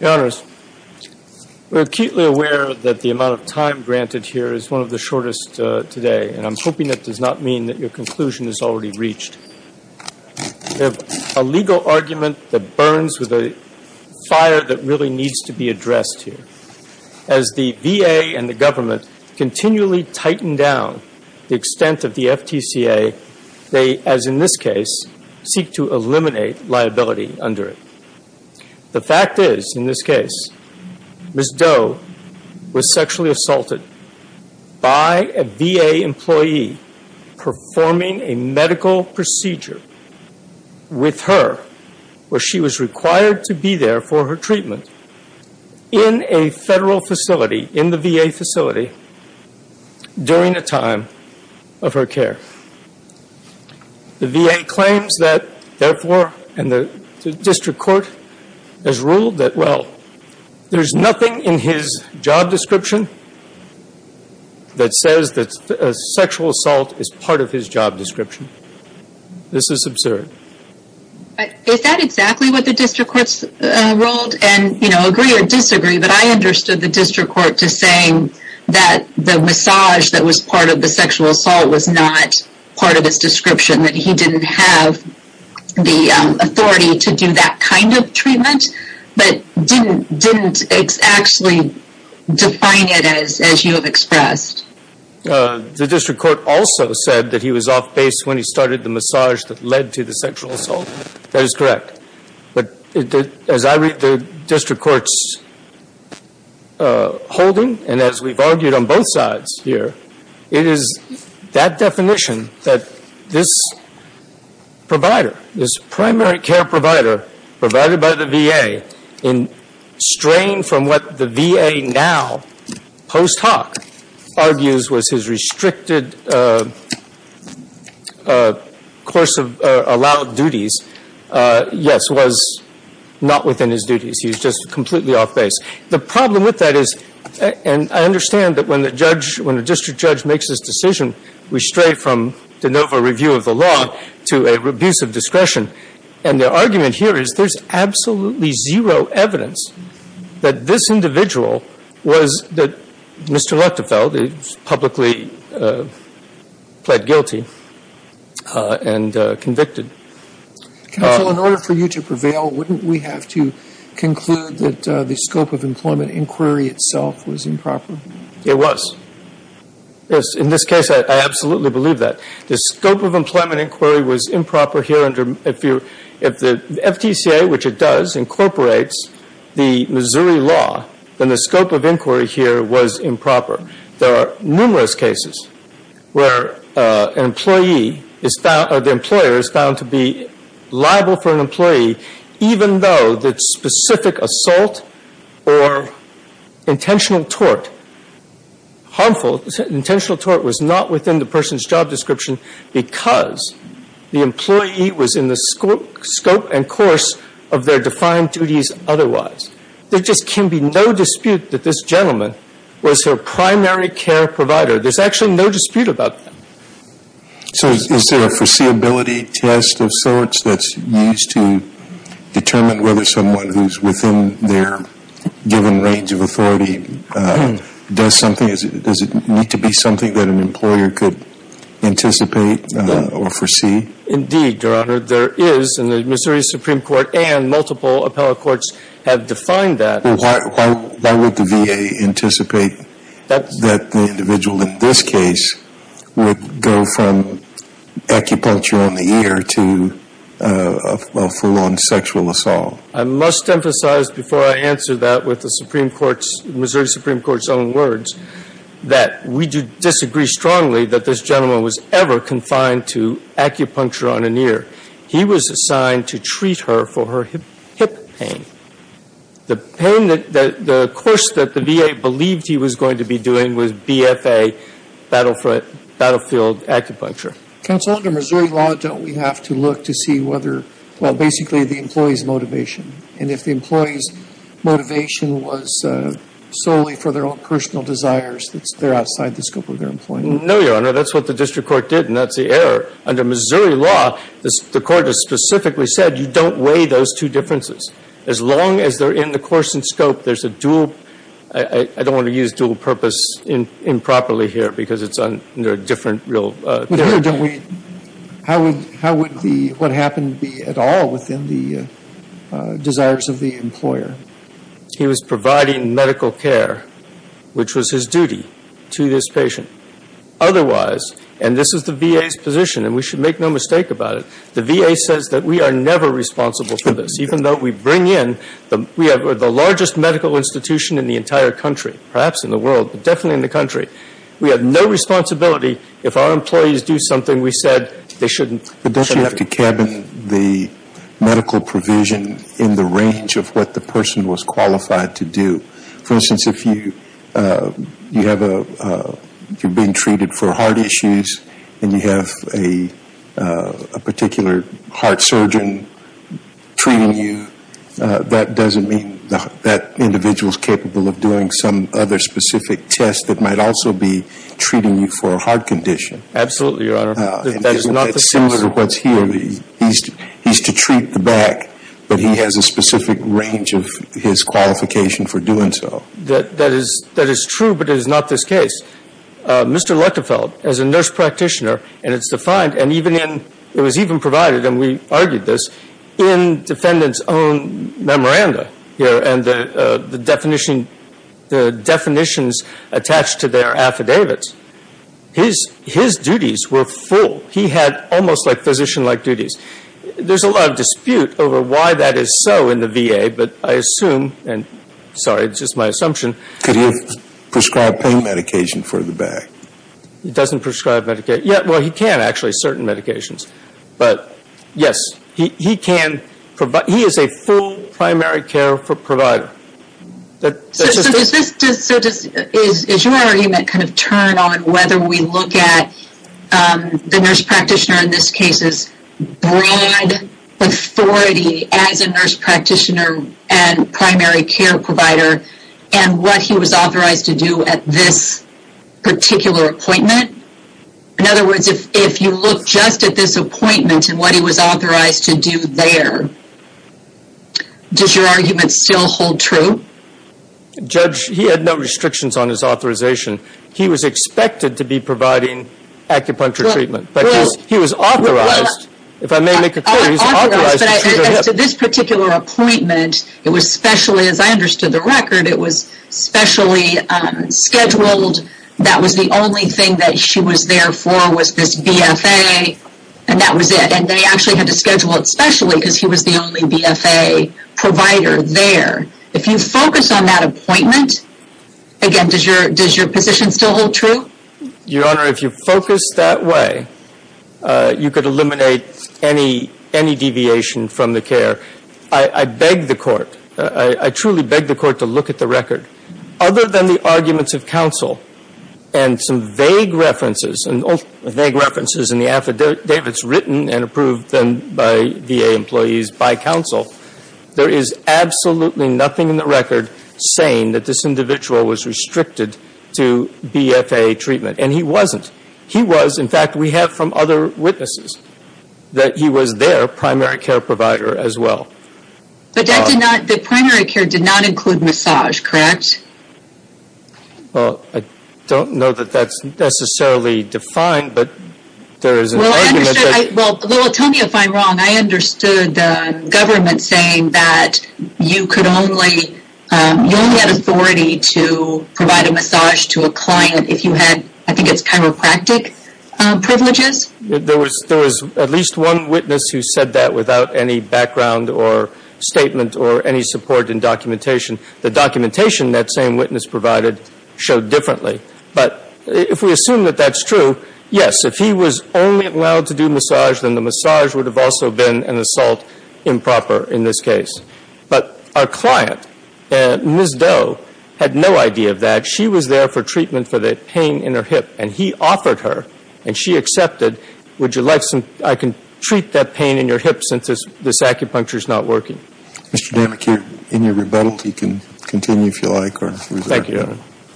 We are acutely aware that the amount of time granted here is one of the shortest today, and I am hoping that does not mean that your conclusion is already reached. We have a legal argument that burns with a fire that really needs to be addressed here. As the VA and the government continually tighten down the extent of the FTCA, they, as in this case, seek to eliminate liability under it. The fact is, in this case, Ms. Doe was sexually assaulted by a VA employee performing a medical procedure with her where she was required to be there for her treatment in a federal facility, in the VA facility, during the time of her care. The VA claims that, therefore, and the district court has ruled that, well, there is nothing in his job description that says that sexual assault is part of his job description. This is absurd. Is that exactly what the district court ruled? And, you know, agree or disagree, but I understood the district court to saying that the massage that was part of the sexual assault was not part of his description, that he didn't have the authority to do that kind of treatment, but didn't actually define it as you have expressed. The district court also said that he was off base when he started the massage that led to the sexual assault. That is correct. But, as I read the district court's holding, and as we've argued on that definition, that this provider, this primary care provider provided by the VA in strain from what the VA now post hoc argues was his restricted course of allowed duties, yes, was not within his duties. He was just completely off base. The problem with that is, and I understand that when a district judge makes this decision, we stray from de novo review of the law to a abuse of discretion. And the argument here is there's absolutely zero evidence that this individual was that Mr. Luchtefeld publicly pled guilty and convicted. Counsel, in order for you to prevail, wouldn't we have to conclude that the scope of employment inquiry itself was improper? It was. In this case, I absolutely believe that. The scope of employment inquiry was improper here. If the FTCA, which it does, incorporates the Missouri law, then the scope of inquiry here was improper. There are numerous cases where an employee is found, or the employer is found to be harmful. Intentional tort was not within the person's job description because the employee was in the scope and course of their defined duties otherwise. There just can be no dispute that this gentleman was their primary care provider. There's actually no dispute about that. So is there a foreseeability test of sorts that's used to determine whether someone who's within their given range of authority does something? Does it need to be something that an employer could anticipate or foresee? Indeed, Your Honor. There is, and the Missouri Supreme Court and multiple appellate courts have defined that. Why would the VA anticipate that the individual in this case would go from acupuncture on the ear to a full-on sexual assault? I must emphasize before I answer that with the Supreme Court's, Missouri Supreme Court's own words, that we do disagree strongly that this gentleman was ever confined to acupuncture on an ear. He was assigned to treat her for her hip pain. The pain that, the course that the VA believed he was going to be doing was BFA, battlefield acupuncture. Counsel, under Missouri law, don't we have to look to see whether, well, basically the employee's motivation, and if the employee's motivation was solely for their own personal desires, they're outside the scope of their employment? No, Your Honor. That's what the district court did, and that's the error. Under Missouri law, the court has specifically said you don't weigh those two differences. As long as they're in the course and scope, there's a dual, I don't want to use dual purpose improperly here because it's under a different real theory. How would the, what happened be at all within the desires of the employer? He was providing medical care, which was his duty to this patient. Otherwise, and this is the VA's position, and we should make no mistake about it, the VA says that we are never responsible for this, even though we bring in the, we have the largest medical institution in the entire country, perhaps in the world, but definitely in the country. We have no responsibility if our employees do something we said they shouldn't. But don't you have to cabin the medical provision in the range of what the person was qualified to do? For instance, if you have a, you're being treated for heart issues, and you have a particular heart surgeon treating you, that doesn't mean that individual's capable of doing some other specific test that might also be treating you for a heart condition. Absolutely, Your Honor. That is not the case. It's similar to what's here. He's to treat the back, but he has a specific range of his qualification for doing so. That is true, but it is not this case. Mr. Lutterfeld, as a nurse practitioner, and it's defined, and even in, it was even provided, and we argued this, in defendant's own memoranda here, and the definition, the definitions attached to their affidavits, his duties were full. He had almost like physician-like duties. There's a lot of dispute over why that is so in the VA, but I assume, and sorry, it's just my assumption. Could he have prescribed pain medication for the back? He doesn't prescribe medication. Yeah, well, he can actually, certain medications. But yes, he can provide, he is a full primary care provider. Does your argument kind of turn on whether we look at the nurse practitioner in this case's broad authority as a nurse practitioner and primary care provider, and what he was authorized to do at this particular appointment? In other words, if you look just at this appointment, and what he was authorized to do there, does your argument still hold true? Judge, he had no restrictions on his authorization. He was expected to be providing acupuncture treatment, but he was authorized. If I may make it clear, he was authorized. But as to this particular appointment, it was specially, as I understood the record, it was specially scheduled. That was the only thing that she was there for was this BFA, and that was it. And they actually had to schedule it specially because he was the only BFA provider there. If you focus on that appointment, again, does your position still hold true? Your Honor, if you focus that way, you could eliminate any deviation from the care. I beg the Court, I truly beg the Court to look at the record. Other than the arguments of counsel and some vague references, and all the vague references in the affidavits written and approved then by VA employees by counsel, there is absolutely nothing in the record saying that this individual was restricted to BFA treatment. And he wasn't. He was, in fact, we have from other witnesses, that he was their primary care provider as well. But that did not, the primary care did not include massage, correct? Well, I don't know that that's necessarily defined, but there is an argument. Well, tell me if I'm wrong. I understood the government saying that you could only, you only had authority to provide a massage to a client if you had, I think it's chiropractic privileges? There was at least one witness who said that without any background or statement or any support in documentation. The documentation that same witness provided showed differently. But if we assume that that's true, yes, if he was only allowed to do massage, then the massage would have also been an assault improper in this case. But our client, Ms. Doe, had no idea of that. She was there for treatment for the pain in her hip. And he offered her, and she accepted, would you like some, I can treat that pain in your hip since this acupuncture is not working. Mr. Damachir, in your rebuttal, you can continue if you like or reserve. Thank you, Your Honor.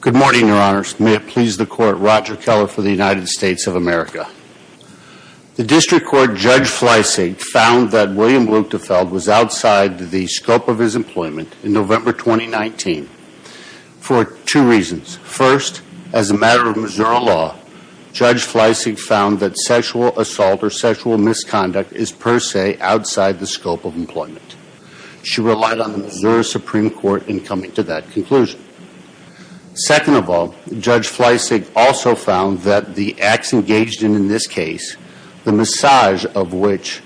Good morning, Your Honors. May it please the Court, Roger Keller for the United States of America. The District Court Judge Fleisig found that William Luchtefeld was outside the scope of his employment in November 2019 for two reasons. First, as a matter of Missouri law, Judge Fleisig found that sexual assault or sexual misconduct is per se outside the scope of employment. She relied on the Missouri Supreme Court in coming to that conclusion. Second of all, Judge Fleisig also found that the massage of which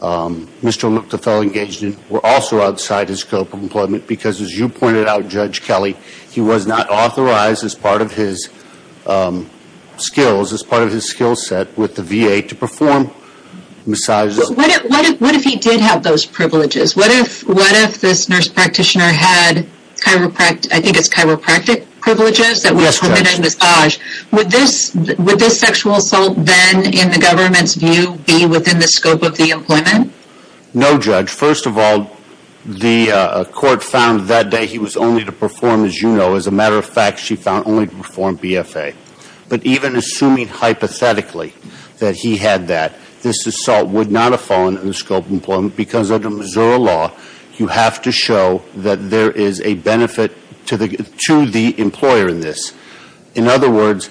Mr. Luchtefeld engaged in were also outside his scope of employment because as you pointed out, Judge Kelly, he was not authorized as part of his skills, as part of his skill set with the VA to perform massages. What if he did have those privileges? What if this nurse practitioner had, I think it's within the scope of the employment? No, Judge. First of all, the Court found that day he was only to perform, as you know. As a matter of fact, she found only to perform BFA. But even assuming hypothetically that he had that, this assault would not have fallen in the scope of employment because under Missouri law, you have to show that there is a benefit to the employer in this. In other words,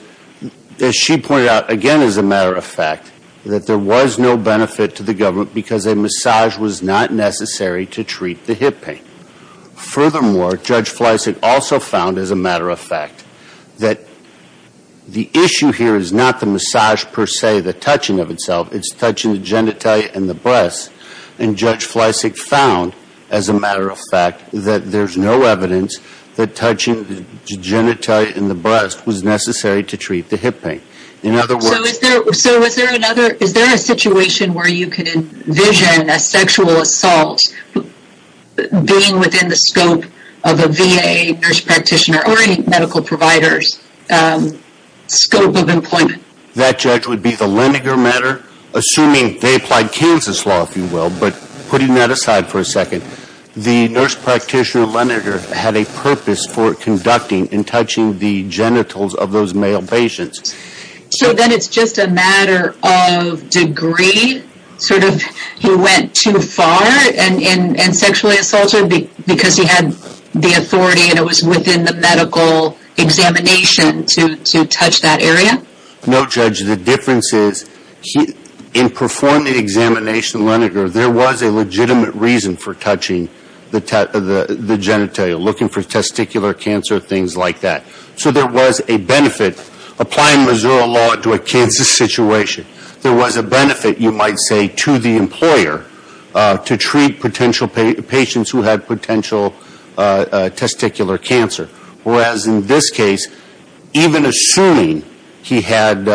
as she pointed out again, as a matter of fact, that there was no benefit to the government because a massage was not necessary to treat the hip pain. Furthermore, Judge Fleisig also found, as a matter of fact, that the issue here is not the massage per se, the touching of itself, it's touching the genitalia and the breast. And Judge Fleisig found, as a matter of fact, that there's no evidence that touching the genitalia and the breast was necessary to treat the hip pain. In other words... So is there another, is there a situation where you could envision a sexual assault being within the scope of a VA nurse practitioner or a medical provider's scope of employment? That, Judge, would be the Leninger matter, assuming they applied Kansas law, if you will. But putting that aside for a second, the nurse practitioner, Leninger, had a purpose for conducting and touching the genitals of those male patients. So then it's just a matter of degree? Sort of, he went too far and sexually assaulted because he had the authority and it was within the medical examination to touch that area? No, Judge. The difference is, in performing the examination, Leninger, there was a legitimate reason for touching the genitalia, looking for testicular cancer, things like that. So there was a benefit. Applying Missouri law into a Kansas situation, there was a benefit, you might say, to the employer to treat potential patients who had potential testicular cancer. Whereas in this case, even assuming he had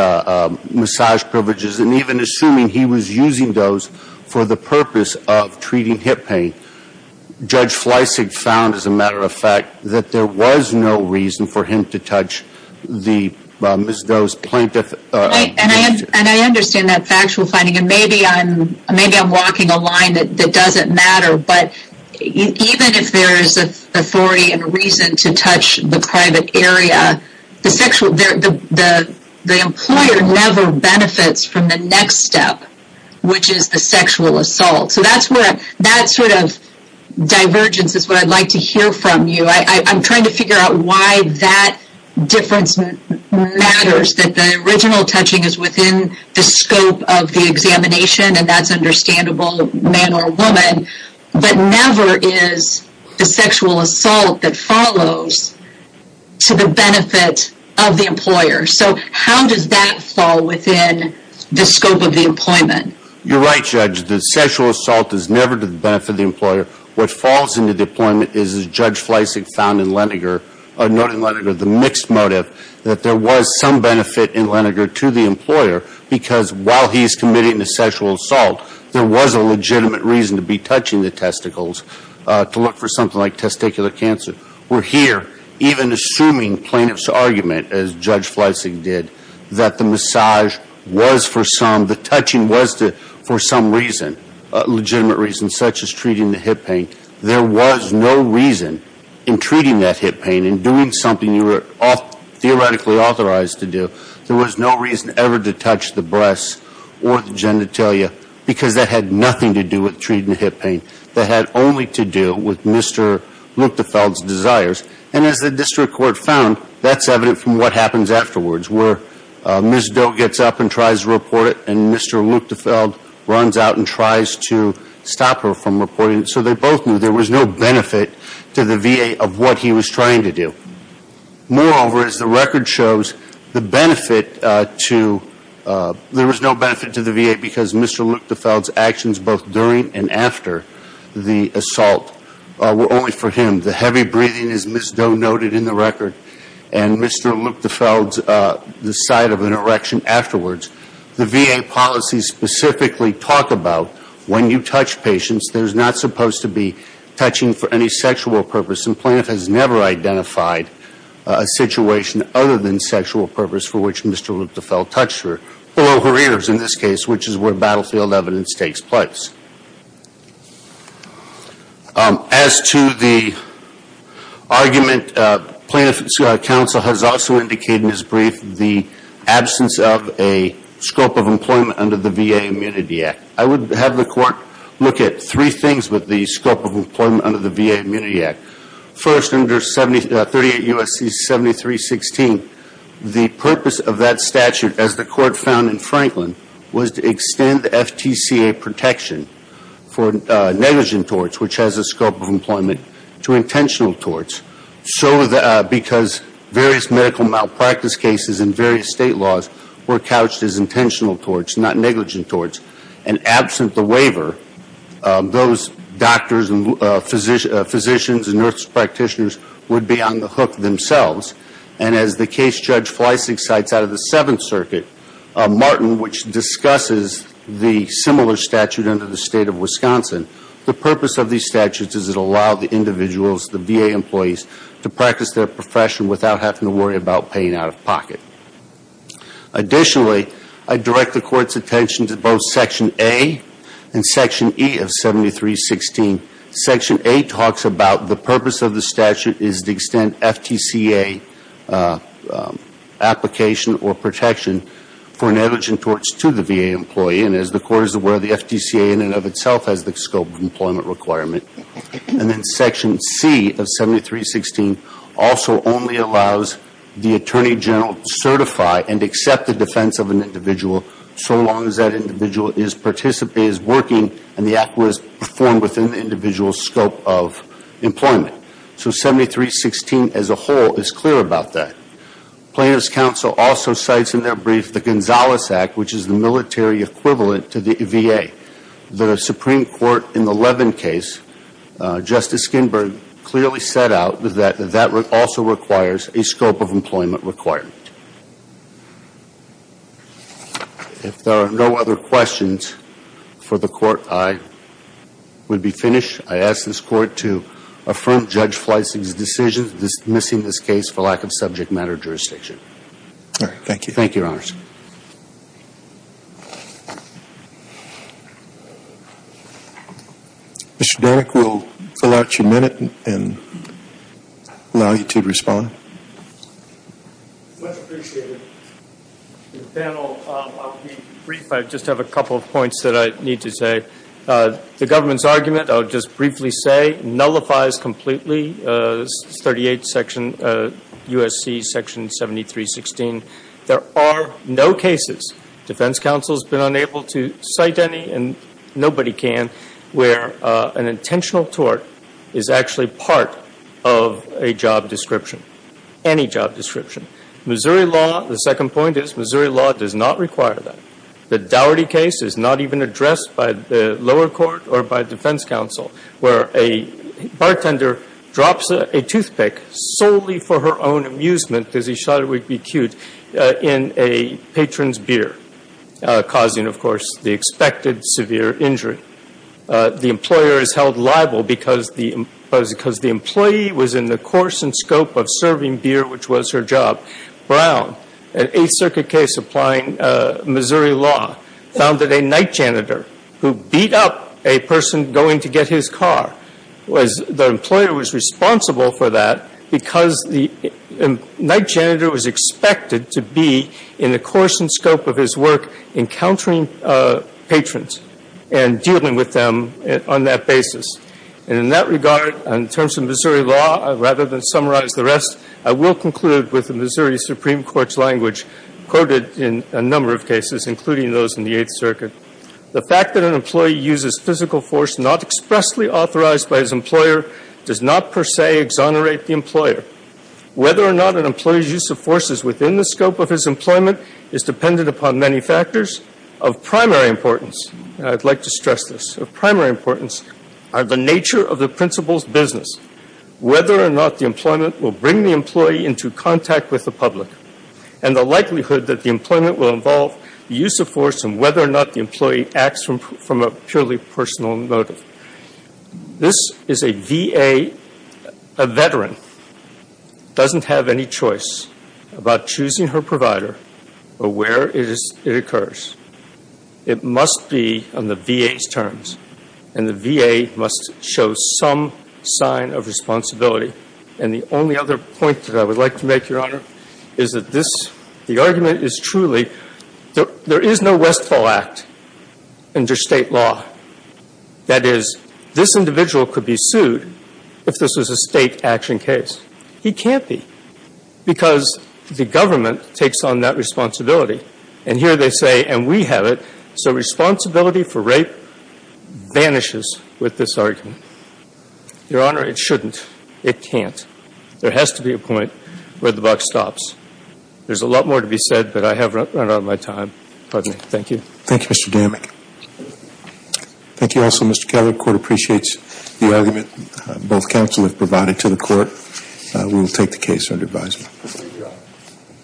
massage privileges and even assuming he was using those for the purpose of treating hip pain, Judge Fleisig found, as a matter of fact, that there was no reason for him to touch those plaintiffs' genitals. And I understand that factual finding. And maybe I'm walking a line that doesn't matter, but even if there is authority and reason to touch the private area, the employer never benefits from the next step, which is the sexual assault. So that's where that sort of divergence is what I'd like to hear from you. I'm trying to figure out why that difference matters, that the original touching is within the scope of the examination and that's understandable, man or woman, but never is the sexual assault that follows to the benefit of the employer. So how does that fall within the scope of the employment? You're right, Judge. The sexual assault is never to the benefit of the Judge Fleisig found in Leningrad, the mixed motive, that there was some benefit in Leningrad to the employer because while he's committing a sexual assault, there was a legitimate reason to be touching the testicles to look for something like testicular cancer. We're here, even assuming plaintiffs' argument, as Judge Fleisig did, that the massage was for some, the touching was for some reason, a legitimate reason, such as treating the hip pain. There was no reason in treating that hip pain, in doing something you were theoretically authorized to do, there was no reason ever to touch the breasts or the genitalia because that had nothing to do with treating the hip pain. That had only to do with Mr. Luktefeld's desires and as the district court found, that's evident from what happens afterwards where Ms. Doe gets up and tries to report it and Mr. Luktefeld runs out and tries to stop her from reporting it. So they both knew there was no benefit to the VA of what he was trying to do. Moreover, as the record shows, the benefit to, there was no benefit to the VA because Mr. Luktefeld's actions both during and after the assault were only for him. The heavy breathing, as Ms. Doe noted in the record, and Mr. Luktefeld's, the sight of an erection afterwards, the VA policies specifically talk about when you touch patients, there's not supposed to be touching for any sexual purpose and Plaintiff has never identified a situation other than sexual purpose for which Mr. Luktefeld touched her, below her ears in this case, which is where battlefield evidence takes place. As to the argument, Plaintiff's counsel has also indicated in his brief the absence of a scope of employment under the VA Immunity Act. I would have the court look at three things with the scope of employment under the VA Immunity Act. First, under 38 U.S.C. 7316, the purpose of that for negligent torts, which has a scope of employment, to intentional torts. Because various medical malpractice cases in various state laws were couched as intentional torts, not negligent torts, and absent the waiver, those doctors and physicians and nurse practitioners would be on the hook themselves. As the case judge Fleissig cites out of the Seventh Circuit, Martin, which discusses the similar statute under the State of Wisconsin, the purpose of these statutes is to allow the individuals, the VA employees, to practice their profession without having to worry about paying out of pocket. Additionally, I direct the Court's attention to both Section A and Section E of 7316. Section A talks about the purpose of the statute is to extend FTCA application or protection for negligent torts to the VA employee. And as the Court is aware, the FTCA in and of itself has the scope of employment requirement. And then Section C of 7316 also only allows the Attorney General to certify and accept the defense of an individual so long as that scope of employment. So 7316 as a whole is clear about that. Plaintiff's Counsel also cites in their brief the Gonzalez Act, which is the military equivalent to the VA. The Supreme Court in the Levin case, Justice Skinberg clearly set out that that also requires a scope of employment requirement. If there are no other questions for the Court, I would be finished. I ask this Court to affirm Judge Fleissig's decision dismissing this case for lack of subject matter jurisdiction. All right. Thank you. Thank you, Your Honors. Mr. Danek, we'll fill out your minute and allow you to respond. Much appreciated. The panel, I'll be brief. I just have a couple of points that I need to say. The government's argument, I'll just briefly say, nullifies completely 38 U.S.C. Section 7316. There are no cases, defense counsel has been unable to cite any, and nobody can, where an intentional tort is actually part of a job description, any job description. Missouri law, the second point is, Missouri law does not require that. The Daugherty case is not even addressed by the lower court or by defense counsel, where a bartender drops a toothpick solely for her own amusement, because he thought it would be cute, in a patron's beer, causing, of course, the expected severe injury. The employer is held liable because the employee was in the course and scope of serving beer, which was her job. Brown, an Eighth Circuit case Missouri law, found that a night janitor who beat up a person going to get his car, the employer was responsible for that because the night janitor was expected to be in the course and scope of his work encountering patrons and dealing with them on that basis. And in that regard, in terms of Missouri law, rather than summarize the rest, I will conclude with the Missouri Supreme Court's language quoted in a number of cases, including those in the Eighth Circuit. The fact that an employee uses physical force not expressly authorized by his employer does not per se exonerate the employer. Whether or not an employee's use of force is within the scope of his employment is dependent upon many factors of primary importance. I'd like to stress this. Of primary importance are the nature of the principal's business. Whether or not the employment will bring the employee into contact with the public, and the likelihood that the employment will involve the use of force and whether or not the employee acts from a purely personal motive. This is a VA, a veteran, doesn't have any choice about choosing her provider or where it occurs. It must be on the VA's terms, and the VA must show some sign of responsibility. And the only other point that I would like to make, Your Honor, is that this, the argument is truly, there is no Westfall Act under State law. That is, this individual could be sued if this was a State action case. He can't be, because the government takes on that responsibility. And here they say, and we have it, so responsibility for rape vanishes with this argument. Your Honor, it shouldn't. It can't. There has to be a point where the buck stops. There's a lot more to be said, but I have run out of my time. Pardon me. Thank you. Thank you, Mr. Damick. Thank you also, Mr. Kelly. The Court appreciates the argument both counsel have provided to the Court. We will take the case under advisement.